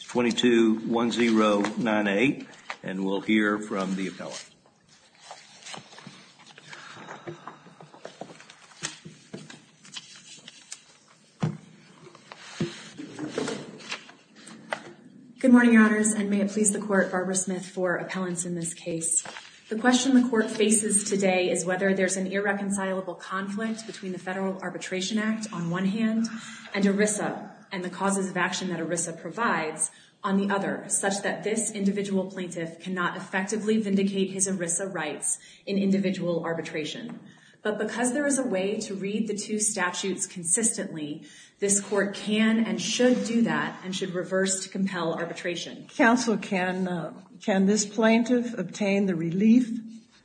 221098, and we'll hear from the appellant. Good morning, Your Honors, and may it please the Court, Barbara Smith, for appellants in this case. The question the Court faces today is whether there's an irreconcilable conflict between the Federal Arbitration Act, on one hand, and ERISA, and the causes of action that ERISA provides, on the other, such that this individual plaintiff cannot effectively vindicate his ERISA rights in individual arbitration. But because there is a way to read the two statutes consistently, this Court can and should do that, and should reverse to compel arbitration. Counsel, can this plaintiff obtain the relief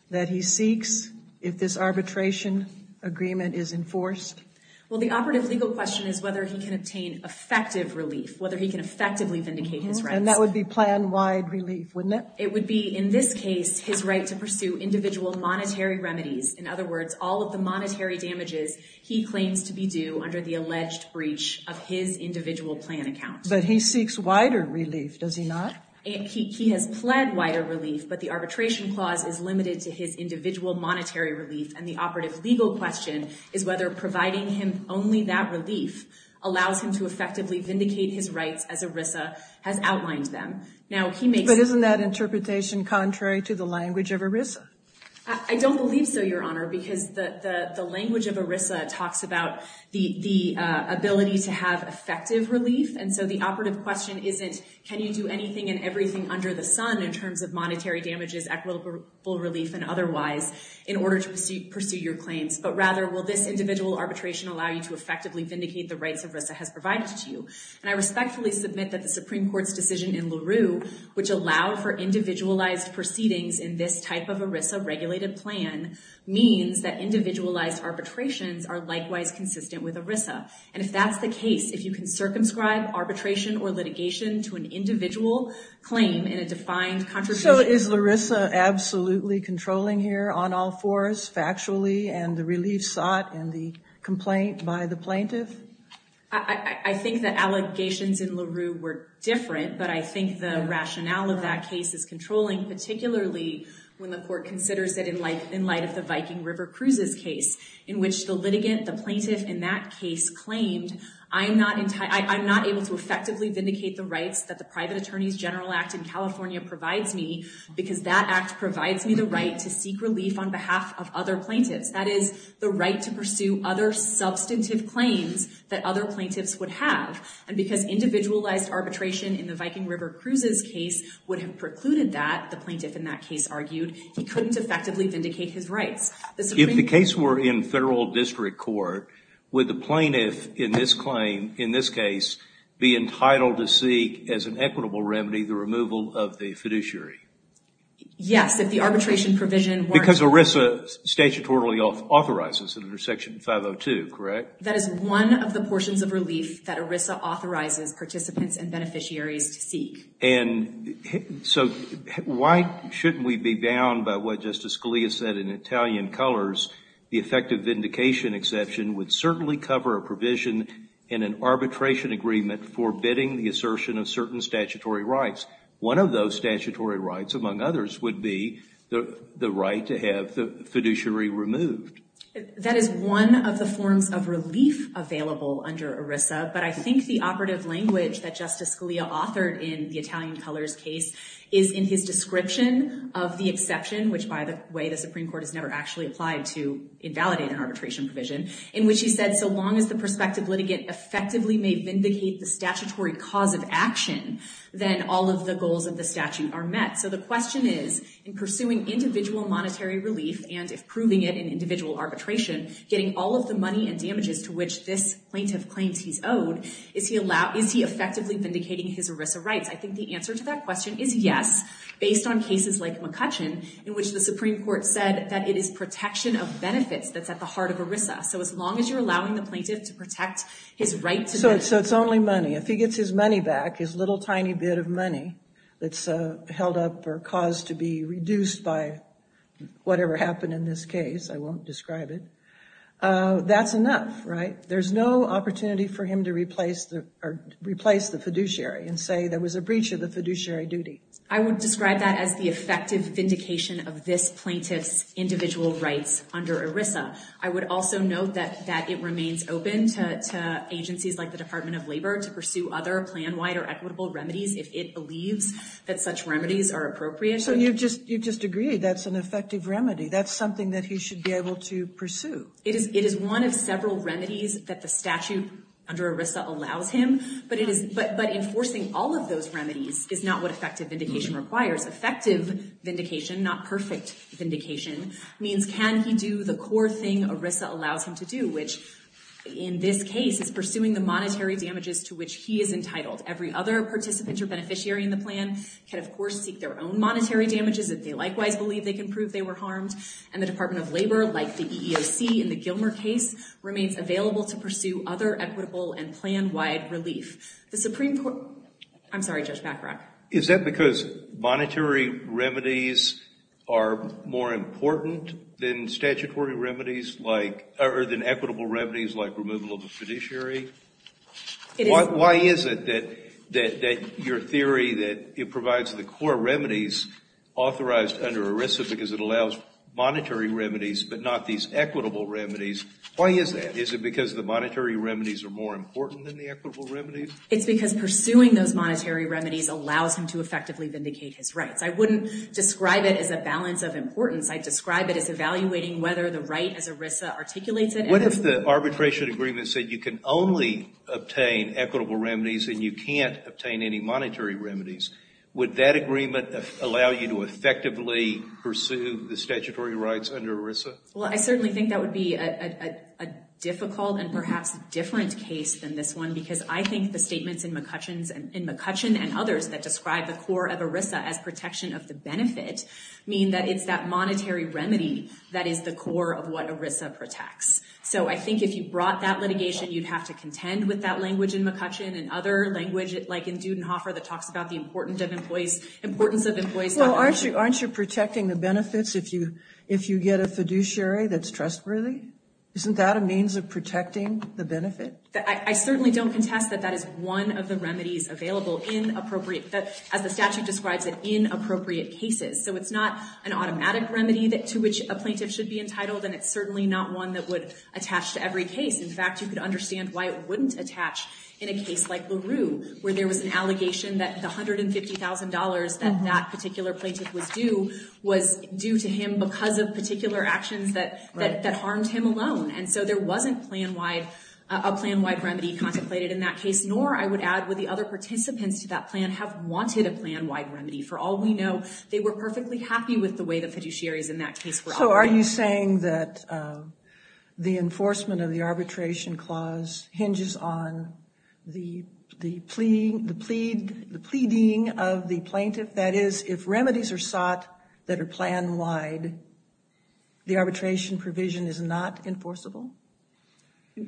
that he seeks if this arbitration agreement is enforced? Well, the operative legal question is whether he can obtain effective relief, whether he can effectively vindicate his rights. And that would be plan-wide relief, wouldn't it? It would be, in this case, his right to pursue individual monetary remedies. In other words, all of the monetary damages he claims to be due under the alleged breach of his individual plan account. But he seeks wider relief, does he not? He has pled wider relief, but the arbitration clause is limited to his individual monetary relief. And the operative legal question is whether providing him only that relief allows him to effectively vindicate his rights as ERISA has outlined them. But isn't that interpretation contrary to the language of ERISA? I don't believe so, Your Honor, because the language of ERISA talks about the ability to have effective relief. And so the operative question isn't, can you do anything and everything under the sun in terms of monetary damages, equitable relief, and otherwise, in order to pursue your claims. But rather, will this individual arbitration allow you to effectively vindicate the rights ERISA has provided to you? And I respectfully submit that the Supreme Court's decision in LaRue, which allowed for individualized proceedings in this type of ERISA regulated plan, means that individualized arbitrations are likewise consistent with ERISA. And if that's the case, if you can circumscribe arbitration or litigation to an individual claim in a defined contribution. So is Larissa absolutely controlling here on all fours, factually, and the relief sought in the complaint by the plaintiff? I think the allegations in LaRue were different. But I think the rationale of that case is controlling, particularly when the court considers it in light of the Viking River Cruises case, in which the litigant, the plaintiff in that case claimed, I'm not able to effectively vindicate the rights that the Private Attorneys General Act in California provides me because that act provides me the right to seek relief on behalf of other plaintiffs. That is the right to pursue other substantive claims that other plaintiffs would have. And because individualized arbitration in the Viking River Cruises case would have precluded that, the plaintiff in that case argued, he couldn't effectively vindicate his rights. If the case were in federal district court, would the plaintiff in this claim, in this case, be entitled to seek, as an equitable remedy, the removal of the fiduciary? Yes, if the arbitration provision weren't… Because ERISA statutorily authorizes it under Section 502, correct? That is one of the portions of relief that ERISA authorizes participants and beneficiaries to seek. And so why shouldn't we be bound by what Justice Scalia said in Italian Colors? The effective vindication exception would certainly cover a provision in an arbitration agreement forbidding the assertion of certain statutory rights. One of those statutory rights, among others, would be the right to have the fiduciary removed. That is one of the forms of relief available under ERISA. But I think the operative language that Justice Scalia authored in the Italian Colors case is in his description of the exception, which, by the way, the Supreme Court has never actually applied to invalidate an arbitration provision, in which he said, so long as the prospective litigant effectively may vindicate the statutory cause of action, then all of the goals of the statute are met. So the question is, in pursuing individual monetary relief, and if proving it in individual arbitration, getting all of the money and damages to which this plaintiff claims he's owed, is he effectively vindicating his ERISA rights? I think the answer to that question is yes, based on cases like McCutcheon, in which the Supreme Court said that it is protection of benefits that's at the heart of ERISA. So as long as you're allowing the plaintiff to protect his right to benefit. So it's only money. If he gets his money back, his little tiny bit of money that's held up or caused to be reduced by whatever happened in this case, I won't describe it, that's enough, right? There's no opportunity for him to replace the fiduciary and say there was a breach of the fiduciary duty. I would describe that as the effective vindication of this plaintiff's individual rights under ERISA. I would also note that it remains open to agencies like the Department of Labor to pursue other plan-wide or equitable remedies if it believes that such remedies are appropriate. So you've just agreed that's an effective remedy. That's something that he should be able to pursue. It is one of several remedies that the statute under ERISA allows him. But enforcing all of those remedies is not what effective vindication requires. Effective vindication, not perfect vindication, means can he do the core thing ERISA allows him to do, which in this case is pursuing the monetary damages to which he is entitled. Every other participant or beneficiary in the plan can, of course, seek their own monetary damages if they likewise believe they can prove they were harmed. And the Department of Labor, like the EEOC in the Gilmer case, remains available to pursue other equitable and plan-wide relief. I'm sorry, Judge Bachrach. Is that because monetary remedies are more important than equitable remedies like removal of a fiduciary? Why is it that your theory that it provides the core remedies authorized under ERISA because it allows monetary remedies but not these equitable remedies, why is that? Is it because the monetary remedies are more important than the equitable remedies? It's because pursuing those monetary remedies allows him to effectively vindicate his rights. I wouldn't describe it as a balance of importance. I'd describe it as evaluating whether the right as ERISA articulates it. What if the arbitration agreement said you can only obtain equitable remedies and you can't obtain any monetary remedies? Would that agreement allow you to effectively pursue the statutory rights under ERISA? Well, I certainly think that would be a difficult and perhaps different case than this one because I think the statements in McCutcheon and others that describe the core of ERISA as protection of the benefit mean that it's that monetary remedy that is the core of what ERISA protects. So I think if you brought that litigation, you'd have to contend with that language in McCutcheon and other language like in Dudenhofer that talks about the importance of employees. Well, aren't you protecting the benefits if you get a fiduciary that's trustworthy? Isn't that a means of protecting the benefit? I certainly don't contest that that is one of the remedies available in appropriate, as the statute describes it, in appropriate cases. So it's not an automatic remedy to which a plaintiff should be entitled and it's certainly not one that would attach to every case. In fact, you could understand why it wouldn't attach in a case like LaRue where there was an allegation that the $150,000 that that particular plaintiff was due was due to him because of particular actions that harmed him alone. And so there wasn't plan-wide, a plan-wide remedy contemplated in that case. Nor, I would add, would the other participants to that plan have wanted a plan-wide remedy. For all we know, they were perfectly happy with the way the fiduciaries in that case were operating. Also, are you saying that the enforcement of the arbitration clause hinges on the pleading of the plaintiff? That is, if remedies are sought that are plan-wide, the arbitration provision is not enforceable?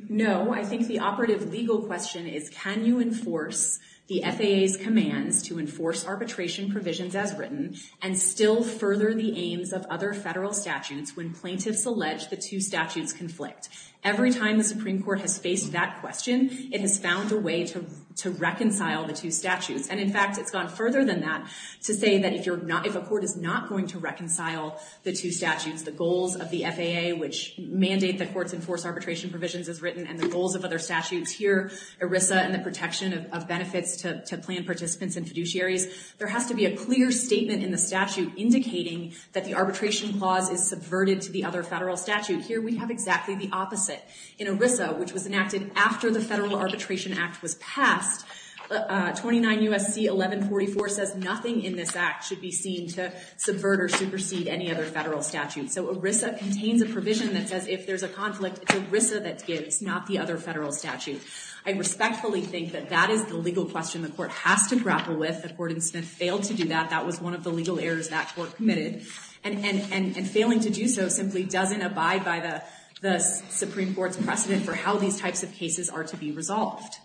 No, I think the operative legal question is, can you enforce the FAA's commands to enforce arbitration provisions as written and still further the aims of other federal statutes when plaintiffs allege the two statutes conflict? Every time the Supreme Court has faced that question, it has found a way to reconcile the two statutes. And in fact, it's gone further than that to say that if a court is not going to reconcile the two statutes, the goals of the FAA, which mandate that courts enforce arbitration provisions as written, and the goals of other statutes, here, ERISA and the protection of benefits to plan participants and fiduciaries, there has to be a clear statement in the statute indicating that the arbitration clause is subverted to the other federal statute. Here, we have exactly the opposite. In ERISA, which was enacted after the Federal Arbitration Act was passed, 29 U.S.C. 1144 says nothing in this act should be seen to subvert or supersede any other federal statute. So ERISA contains a provision that says if there's a conflict, it's ERISA that gives, not the other federal statute. I respectfully think that that is the legal question the court has to grapple with. The court in Smith failed to do that. That was one of the legal errors that court committed. And failing to do so simply doesn't abide by the Supreme Court's precedent for how these types of cases are to be resolved.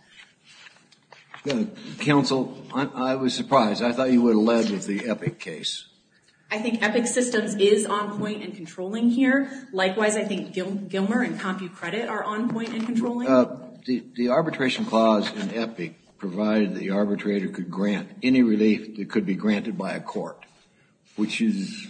Counsel, I was surprised. I thought you would have led with the EPIC case. I think EPIC systems is on point and controlling here. Likewise, I think Gilmer and CompuCredit are on point and controlling. The arbitration clause in EPIC provided the arbitrator could grant any relief that could be granted by a court, which is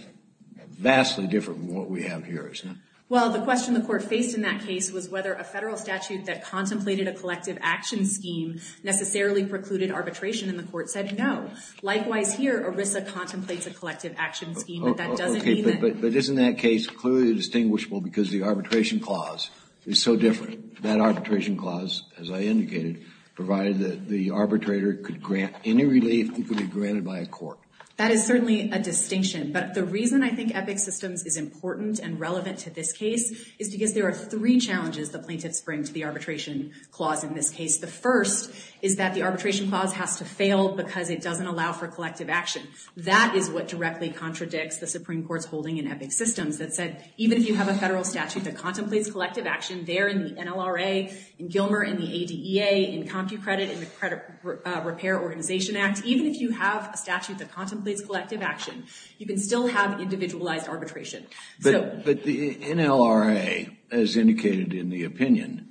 vastly different from what we have here, isn't it? Well, the question the court faced in that case was whether a federal statute that contemplated a collective action scheme necessarily precluded arbitration, and the court said no. Likewise here, ERISA contemplates a collective action scheme, but that doesn't mean that Okay, but isn't that case clearly distinguishable because the arbitration clause is so different? That arbitration clause, as I indicated, provided that the arbitrator could grant any relief that could be granted by a court. That is certainly a distinction, but the reason I think EPIC systems is important and relevant to this case is because there are three challenges the plaintiffs bring to the arbitration clause in this case. The first is that the arbitration clause has to fail because it doesn't allow for collective action. That is what directly contradicts the Supreme Court's holding in EPIC systems that said, even if you have a federal statute that contemplates collective action there in the NLRA, in Gilmer, in the ADEA, in CompuCredit, in the Credit Repair Organization Act, even if you have a statute that contemplates collective action, you can still have individualized arbitration. But the NLRA, as indicated in the opinion,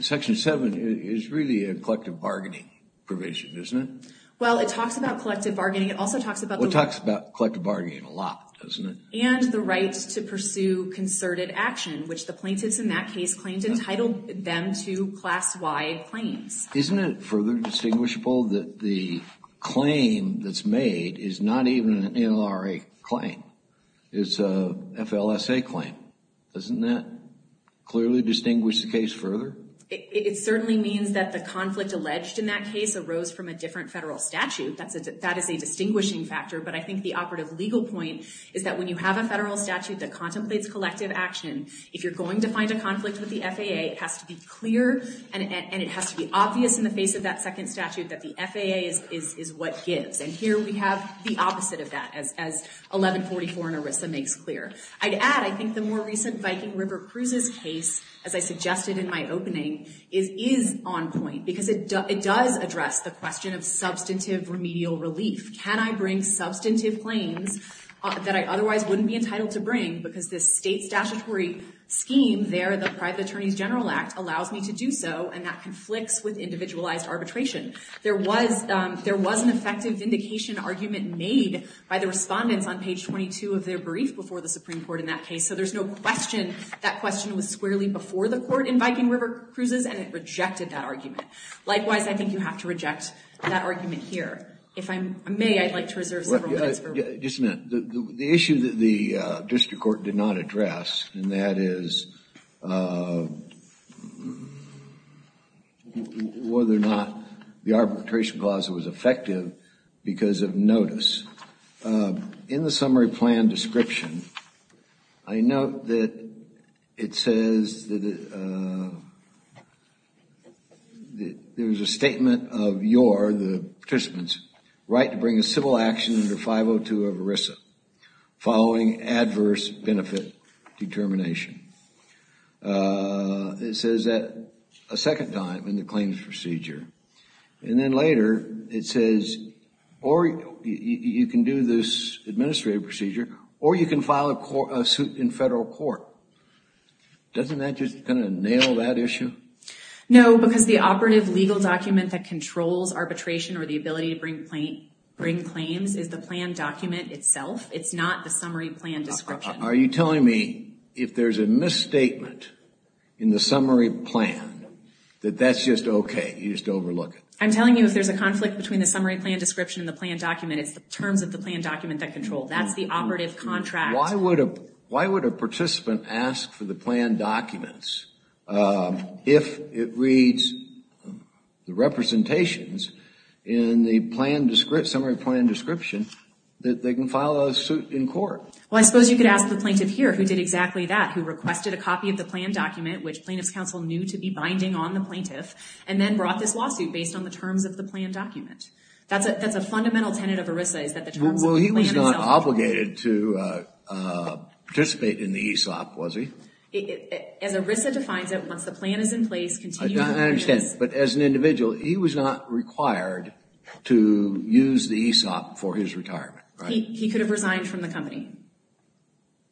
Section 7 is really a collective bargaining provision, isn't it? Well, it talks about collective bargaining. It also talks about the Well, it talks about collective bargaining a lot, doesn't it? and the right to pursue concerted action, which the plaintiffs in that case claimed entitled them to class-wide claims. Isn't it further distinguishable that the claim that's made is not even an NLRA claim? It's a FLSA claim. Doesn't that clearly distinguish the case further? It certainly means that the conflict alleged in that case arose from a different federal statute. That is a distinguishing factor, but I think the operative legal point is that when you have a federal statute that contemplates collective action, if you're going to find a conflict with the FAA, it has to be clear and it has to be obvious in the face of that second statute that the FAA is what gives. And here we have the opposite of that, as 1144 in ERISA makes clear. I'd add, I think the more recent Viking River Cruises case, as I suggested in my opening, is on point because it does address the question of substantive remedial relief. Can I bring substantive claims that I otherwise wouldn't be entitled to bring because this state statutory scheme there, the Private Attorneys General Act, allows me to do so and that conflicts with individualized arbitration. There was an effective vindication argument made by the respondents on page 22 of their brief before the Supreme Court in that case, so there's no question that question was squarely before the court in Viking River Cruises and it rejected that argument. Likewise, I think you have to reject that argument here. If I may, I'd like to reserve several minutes. Just a minute. The issue that the district court did not address, and that is whether or not the arbitration clause was effective because of notice. In the summary plan description, I note that it says that there was a statement of your, the participants, right to bring a civil action under 502 of ERISA following adverse benefit determination. It says that a second time in the claims procedure. And then later it says, or you can do this administrative procedure or you can file a suit in federal court. Doesn't that just kind of nail that issue? No, because the operative legal document that controls arbitration or the ability to bring claims is the plan document itself. It's not the summary plan description. Are you telling me if there's a misstatement in the summary plan that that's just okay? You just overlook it? I'm telling you if there's a conflict between the summary plan description and the plan document, it's the terms of the plan document that control. That's the operative contract. Why would a participant ask for the plan documents if it reads the representations in the summary plan description that they can file a suit in court? Well, I suppose you could ask the plaintiff here who did exactly that, who requested a copy of the plan document, which plaintiff's counsel knew to be binding on the plaintiff, and then brought this lawsuit based on the terms of the plan document. That's a fundamental tenet of ERISA is that the terms of the plan itself control. Well, he was not obligated to participate in the ESOP, was he? As ERISA defines it, once the plan is in place, continuing it is. I understand. But as an individual, he was not required to use the ESOP for his retirement, right? No, he could have resigned from the company.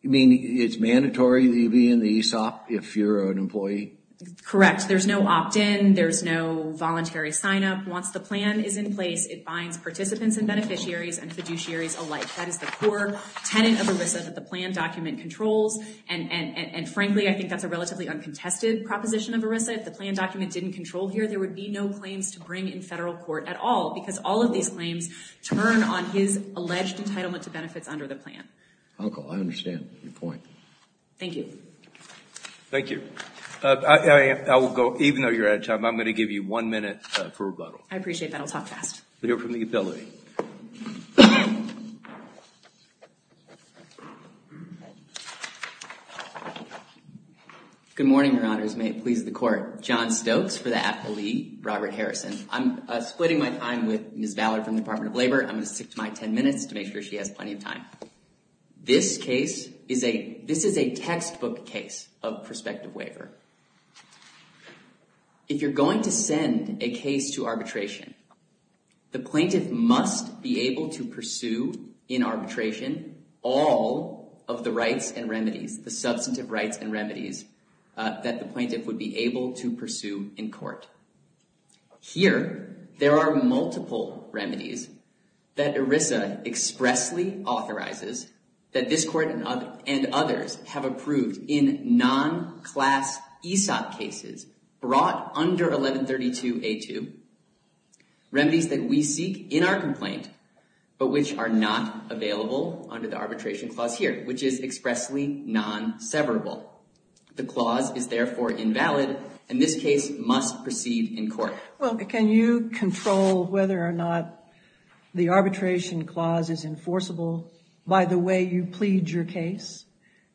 You mean it's mandatory that you be in the ESOP if you're an employee? Correct. There's no opt-in. There's no voluntary sign-up. Once the plan is in place, it binds participants and beneficiaries and fiduciaries alike. That is the core tenet of ERISA that the plan document controls, and frankly, I think that's a relatively uncontested proposition of ERISA. If the plan document didn't control here, there would be no claims to bring in federal court at all because all of these claims turn on his alleged entitlement to benefits under the plan. Uncle, I understand your point. Thank you. Thank you. I will go. Even though you're out of time, I'm going to give you one minute for rebuttal. I appreciate that. I'll talk fast. But you're from the appellate. Good morning, Your Honors. May it please the Court. John Stokes for the appellee, Robert Harrison. I'm splitting my time with Ms. Valor from the Department of Labor. I'm going to stick to my ten minutes to make sure she has plenty of time. This case is a textbook case of prospective waiver. If you're going to send a case to arbitration, the plaintiff must be able to pursue in arbitration all of the rights and remedies, the substantive rights and remedies that the plaintiff would be able to pursue in court. Here, there are multiple remedies that ERISA expressly authorizes, that this Court and others have approved in non-class ESOP cases brought under 1132A2, remedies that we seek in our complaint, but which are not available under the arbitration clause here, which is expressly non-severable. The clause is therefore invalid, and this case must proceed in court. Well, can you control whether or not the arbitration clause is enforceable by the way you plead your case?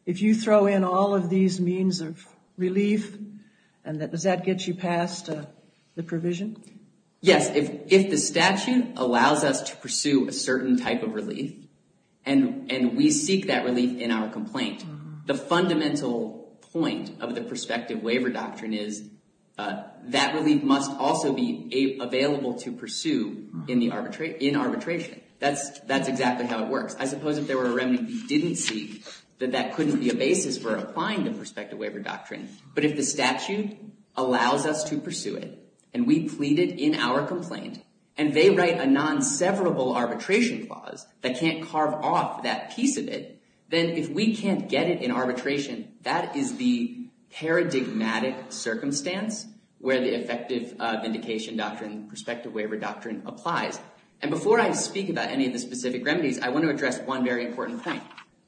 If you throw in all of these means of relief, does that get you past the provision? Yes. If the statute allows us to pursue a certain type of relief, and we seek that relief in our complaint, the fundamental point of the prospective waiver doctrine is that relief must also be available to pursue in arbitration. That's exactly how it works. I suppose if there were a remedy we didn't seek, that that couldn't be a basis for applying the prospective waiver doctrine. But if the statute allows us to pursue it, and we plead it in our complaint, and they write a non-severable arbitration clause that can't carve off that piece of it, then if we can't get it in arbitration, that is the paradigmatic circumstance where the effective vindication doctrine, prospective waiver doctrine applies. And before I speak about any of the specific remedies, I want to address one very important point.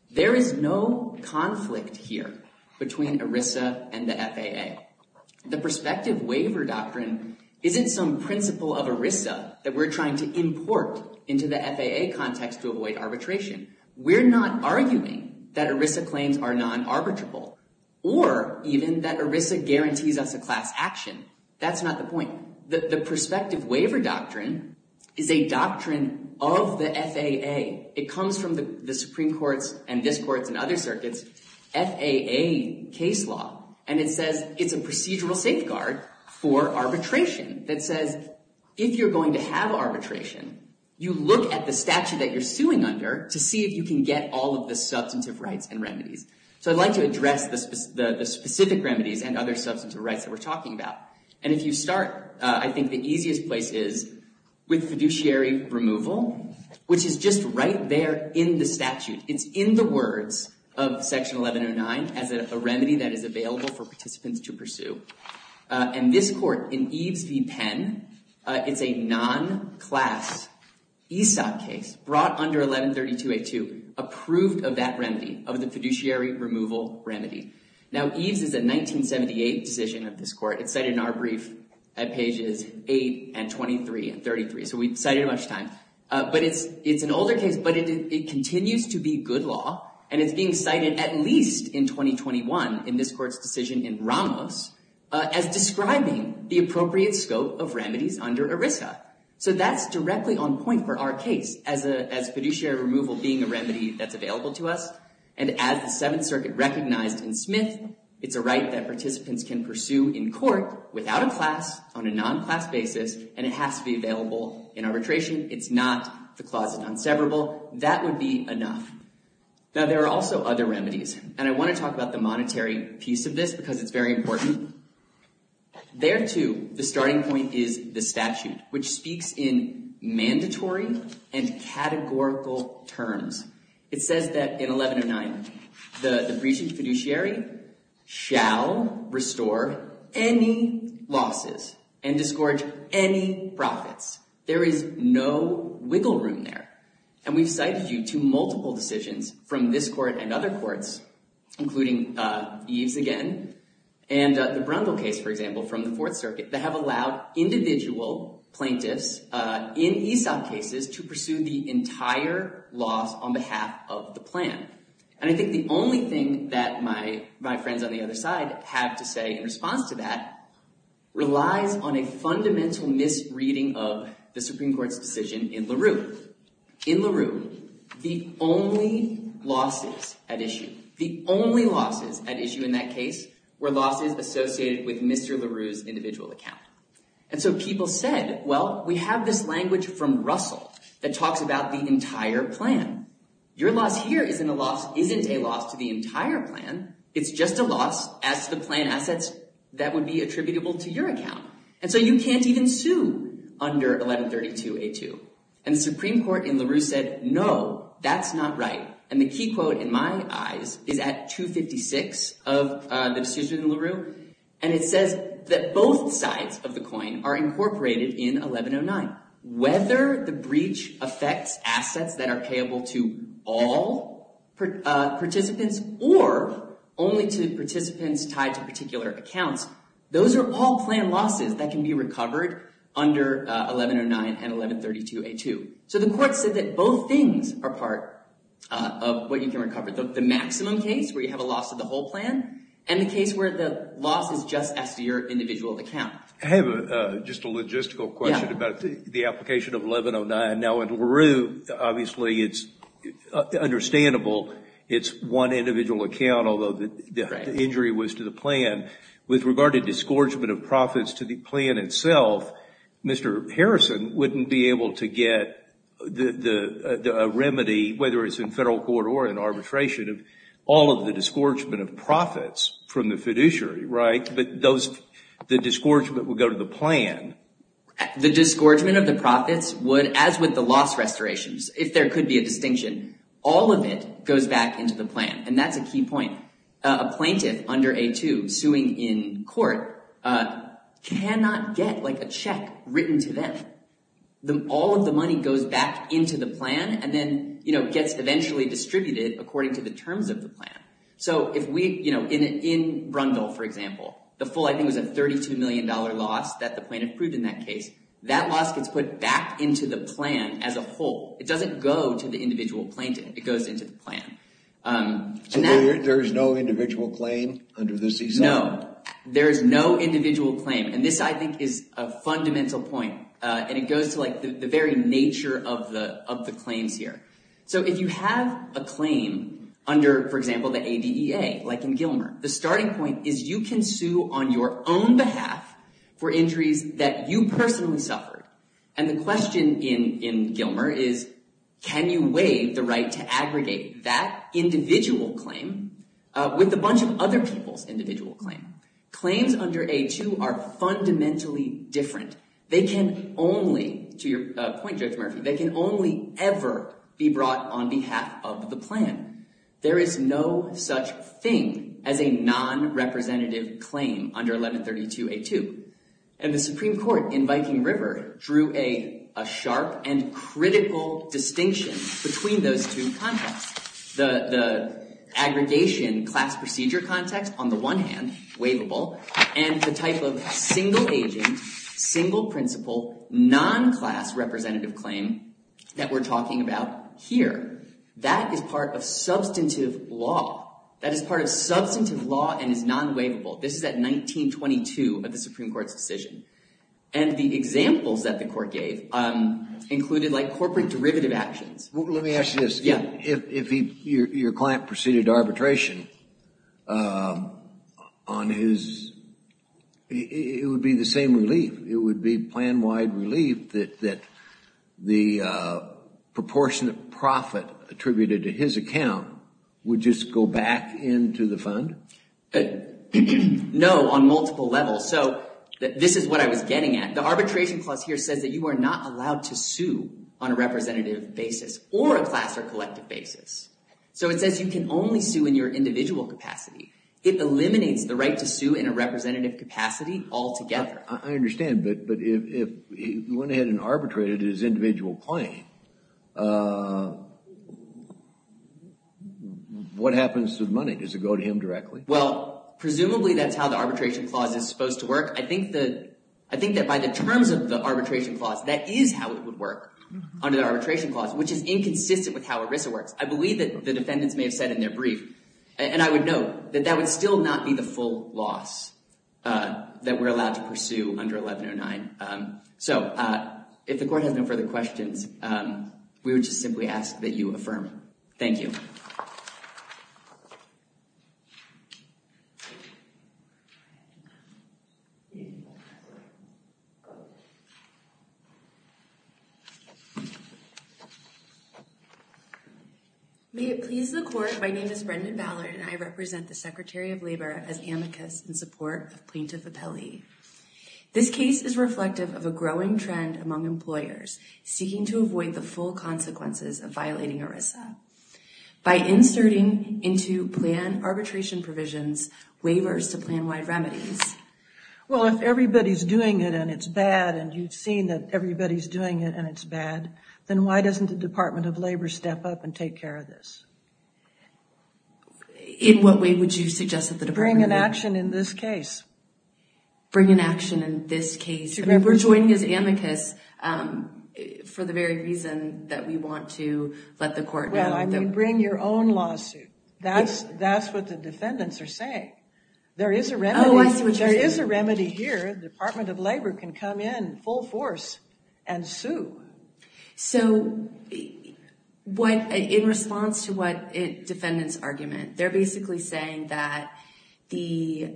There is no conflict here between ERISA and the FAA. The prospective waiver doctrine isn't some principle of ERISA that we're trying to import into the FAA context to avoid arbitration. We're not arguing that ERISA claims are non-arbitrable or even that ERISA guarantees us a class action. That's not the point. The prospective waiver doctrine is a doctrine of the FAA. It comes from the Supreme Court's and this court's and other circuits' FAA case law. And it says it's a procedural safeguard for arbitration that says if you're going to have arbitration, you look at the statute that you're suing under to see if you can get all of the substantive rights and remedies. So I'd like to address the specific remedies and other substantive rights that we're talking about. And if you start, I think the easiest place is with fiduciary removal, which is just right there in the statute. It's in the words of Section 1109 as a remedy that is available for participants to pursue. And this court in Eves v. Penn, it's a non-class ESOP case brought under 1132A2, approved of that remedy, of the fiduciary removal remedy. Now, Eves is a 1978 decision of this court. It's cited in our brief at pages 8 and 23 and 33. So we've cited it a bunch of times. But it's an older case. But it continues to be good law. And it's being cited at least in 2021 in this court's decision in Ramos as describing the appropriate scope of remedies under ERISA. So that's directly on point for our case as fiduciary removal being a remedy that's available to us. And as the Seventh Circuit recognized in Smith, it's a right that participants can pursue in court without a class on a non-class basis. And it has to be available in arbitration. It's not the clause in unseverable. That would be enough. Now, there are also other remedies. And I want to talk about the monetary piece of this because it's very important. There, too, the starting point is the statute, which speaks in mandatory and categorical terms. It says that in 1109, the breaching fiduciary shall restore any losses and disgorge any profits. There is no wiggle room there. And we've cited you to multiple decisions from this court and other courts, including Eves again, and the Brundle case, for example, from the Fourth Circuit, that have allowed individual plaintiffs in ESOP cases to pursue the entire loss on behalf of the plan. And I think the only thing that my friends on the other side have to say in response to that relies on a fundamental misreading of the Supreme Court's decision in LaRue. In LaRue, the only losses at issue, the only losses at issue in that case were losses associated with Mr. LaRue's individual account. And so people said, well, we have this language from Russell that talks about the entire plan. Your loss here isn't a loss to the entire plan. It's just a loss as to the plan assets that would be attributable to your account. And so you can't even sue under 1132A2. And the Supreme Court in LaRue said, no, that's not right. And the key quote in my eyes is at 256 of the decision in LaRue. And it says that both sides of the coin are incorporated in 1109. Whether the breach affects assets that are payable to all participants or only to participants tied to particular accounts, those are all plan losses that can be recovered under 1109 and 1132A2. So the court said that both things are part of what you can recover. The maximum case where you have a loss of the whole plan and the case where the loss is just as to your individual account. I have just a logistical question about the application of 1109. Now, in LaRue, obviously, it's understandable it's one individual account, although the injury was to the plan. With regard to disgorgement of profits to the plan itself, Mr. Harrison wouldn't be able to get a remedy, whether it's in federal court or in arbitration, of all of the disgorgement of profits from the fiduciary, right? But the disgorgement would go to the plan. The disgorgement of the profits would, as with the loss restorations, if there could be a distinction, all of it goes back into the plan. And that's a key point. A plaintiff under A2 suing in court cannot get a check written to them. All of the money goes back into the plan and then gets eventually distributed according to the terms of the plan. So in Brundle, for example, the full, I think, was a $32 million loss that the plaintiff proved in that case. That loss gets put back into the plan as a whole. It doesn't go to the individual plaintiff. It goes into the plan. So there is no individual claim under this example? No, there is no individual claim. And this, I think, is a fundamental point. And it goes to the very nature of the claims here. So if you have a claim under, for example, the ADEA, like in Gilmer, the starting point is you can sue on your own behalf for injuries that you personally suffered. And the question in Gilmer is, can you waive the right to aggregate that individual claim with a bunch of other people's individual claim? Claims under A2 are fundamentally different. They can only, to your point, Judge Murphy, they can only ever be brought on behalf of the plan. There is no such thing as a non-representative claim under 1132 A2. And the Supreme Court in Viking River drew a sharp and critical distinction between those two contexts. The aggregation class procedure context, on the one hand, waivable, and the type of single-agent, single-principle, non-class representative claim that we're talking about here. That is part of substantive law. That is part of substantive law and is non-waivable. This is at 1922 of the Supreme Court's decision. And the examples that the court gave included like corporate derivative actions. Let me ask you this. Yeah. If your client proceeded arbitration on his, it would be the same relief. It would be plan-wide relief that the proportionate profit attributed to his account would just go back into the fund? No, on multiple levels. So this is what I was getting at. The arbitration clause here says that you are not allowed to sue on a representative basis or a class or collective basis. So it says you can only sue in your individual capacity. It eliminates the right to sue in a representative capacity altogether. I understand, but if he went ahead and arbitrated his individual claim, what happens to the money? Does it go to him directly? Well, presumably that's how the arbitration clause is supposed to work. I think that by the terms of the arbitration clause, that is how it would work under the arbitration clause, which is inconsistent with how ERISA works. I believe that the defendants may have said in their brief, and I would note, that that would still not be the full loss that we're allowed to pursue under 1109. So if the court has no further questions, we would just simply ask that you affirm. Thank you. Thank you. May it please the court, my name is Brendan Ballard, and I represent the Secretary of Labor as amicus in support of Plaintiff Appellee. This case is reflective of a growing trend among employers seeking to avoid the full consequences of violating ERISA. By inserting into plan arbitration provisions waivers to plan-wide remedies. Well, if everybody's doing it and it's bad, and you've seen that everybody's doing it and it's bad, then why doesn't the Department of Labor step up and take care of this? In what way would you suggest that the Department of Labor? Bring an action in this case. Bring an action in this case. We're joining as amicus for the very reason that we want to let the court know. Well, I mean bring your own lawsuit. That's what the defendants are saying. There is a remedy. Oh, I see what you're saying. The Department of Labor can come in full force and sue. So, in response to what defendants argument, they're basically saying that the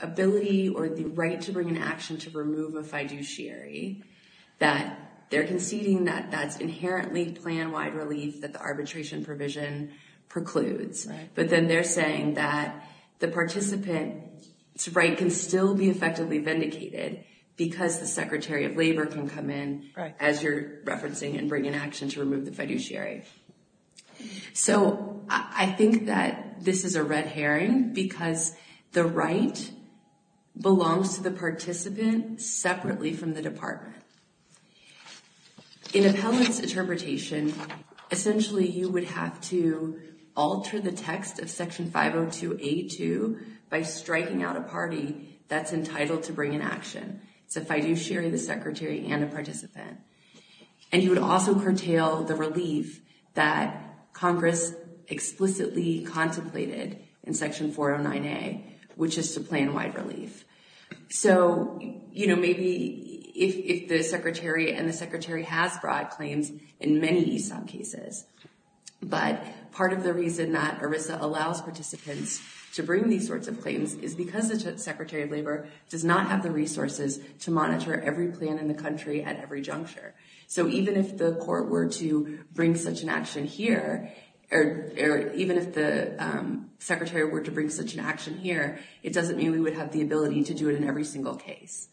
ability or the right to bring an action to remove a fiduciary. That they're conceding that that's inherently plan-wide relief that the arbitration provision precludes. But then they're saying that the participant's right can still be effectively vindicated because the Secretary of Labor can come in as you're referencing and bring an action to remove the fiduciary. So, I think that this is a red herring because the right belongs to the participant separately from the department. In appellant's interpretation, essentially you would have to alter the text of Section 502A2 by striking out a party that's entitled to bring an action. It's a fiduciary, the secretary, and a participant. And you would also curtail the relief that Congress explicitly contemplated in Section 409A, which is to plan-wide relief. So, you know, maybe if the secretary and the secretary has broad claims in many ESOP cases. But part of the reason that ERISA allows participants to bring these sorts of claims is because the Secretary of Labor does not have the resources to monitor every plan in the country at every juncture. So, even if the court were to bring such an action here, or even if the secretary were to bring such an action here, it doesn't mean we would have the ability to do it in every single case.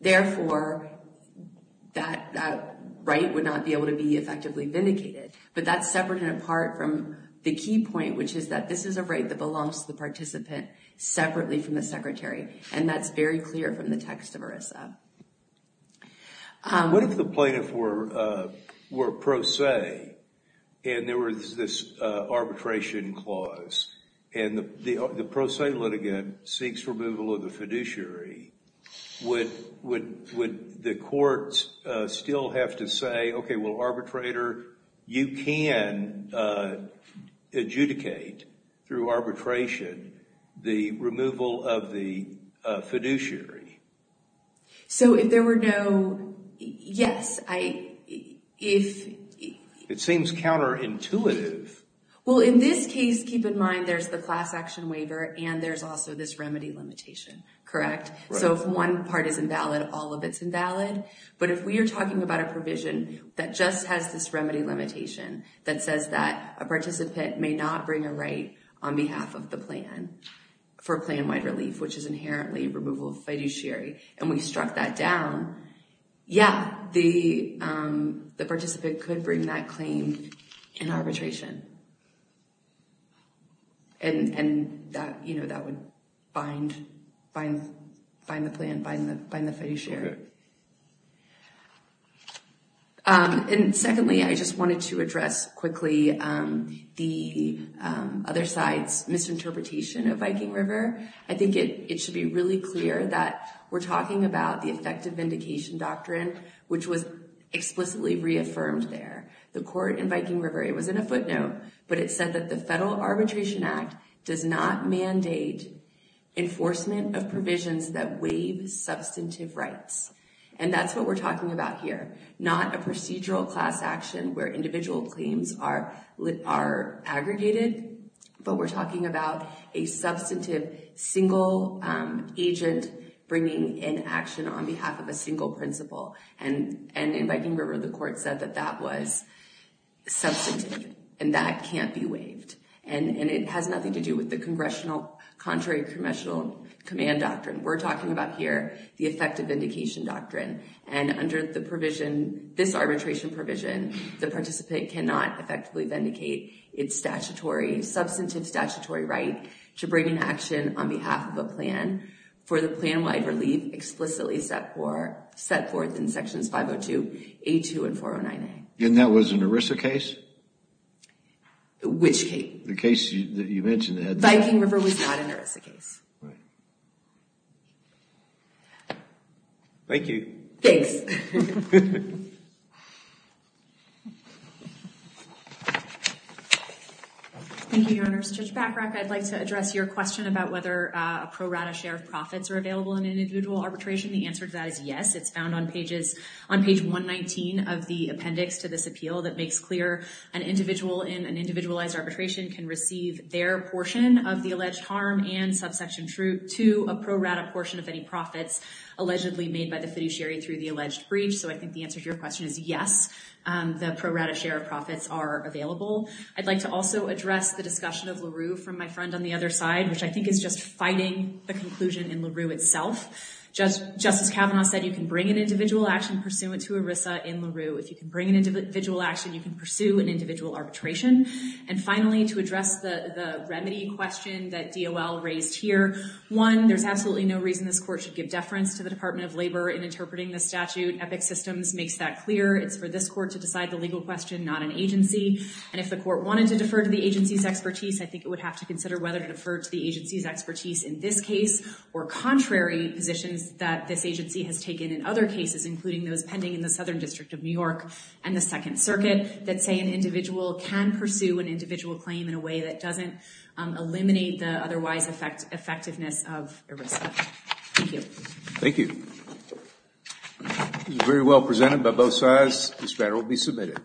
Therefore, that right would not be able to be effectively vindicated. But that's separate and apart from the key point, which is that this is a right that belongs to the participant separately from the secretary. And that's very clear from the text of ERISA. What if the plaintiff were pro se, and there was this arbitration clause, and the pro se litigant seeks removal of the fiduciary? Would the courts still have to say, okay, well, arbitrator, you can adjudicate through arbitration the removal of the fiduciary? So, if there were no, yes. It seems counterintuitive. Well, in this case, keep in mind, there's the class action waiver, and there's also this remedy limitation, correct? So, if one part is invalid, all of it's invalid. But if we are talking about a provision that just has this remedy limitation that says that a participant may not bring a right on behalf of the plan for plan-wide relief, which is inherently removal of fiduciary, and we struck that down, yeah, the participant could bring that claim in arbitration. And that would bind the plan, bind the fiduciary. And secondly, I just wanted to address quickly the other side's misinterpretation of Viking River. I think it should be really clear that we're talking about the effective vindication doctrine, which was explicitly reaffirmed there. The court in Viking River, it was in a footnote, but it said that the Federal Arbitration Act does not mandate enforcement of provisions that waive substantive rights. And that's what we're talking about here. Not a procedural class action where individual claims are aggregated, but we're talking about a substantive single agent bringing in action on behalf of a single principal. And in Viking River, the court said that that was substantive, and that can't be waived. And it has nothing to do with the contrary congressional command doctrine. We're talking about here the effective vindication doctrine. And under the provision, this arbitration provision, the participant cannot effectively vindicate its statutory, substantive statutory right to bring in action on behalf of a plan for the plan-wide relief explicitly set forth in Sections 502, 802, and 409A. And that was an ERISA case? Which case? The case that you mentioned, Ed. Viking River was not an ERISA case. Right. Thank you. Thanks. Thank you, Your Honors. Judge Bachrach, I'd like to address your question about whether a pro rata share of profits are available in individual arbitration. The answer to that is yes. It's found on page 119 of the appendix to this appeal that makes clear an individual in an individualized arbitration can receive their portion of the alleged harm and subsection to a pro rata portion of any profits allegedly made by the fiduciary through the alleged breach. So I think the answer to your question is yes. The pro rata share of profits are available. I'd like to also address the discussion of LaRue from my friend on the other side, which I think is just fighting the conclusion in LaRue itself. Justice Kavanaugh said you can bring an individual action pursuant to ERISA in LaRue. If you can bring an individual action, you can pursue an individual arbitration. And finally, to address the remedy question that DOL raised here, one, there's absolutely no reason this court should give deference to the Department of Labor in interpreting the statute. Epic Systems makes that clear. It's for this court to decide the legal question, not an agency. And if the court wanted to defer to the agency's expertise, I think it would have to consider whether to defer to the agency's expertise in this case or contrary positions that this agency has taken in other cases, including those pending in the Southern District of New York and the Second Circuit, that say an individual can pursue an individual claim in a way that doesn't eliminate the otherwise effectiveness of ERISA. Thank you. Thank you. This was very well presented by both sides. This matter will be submitted.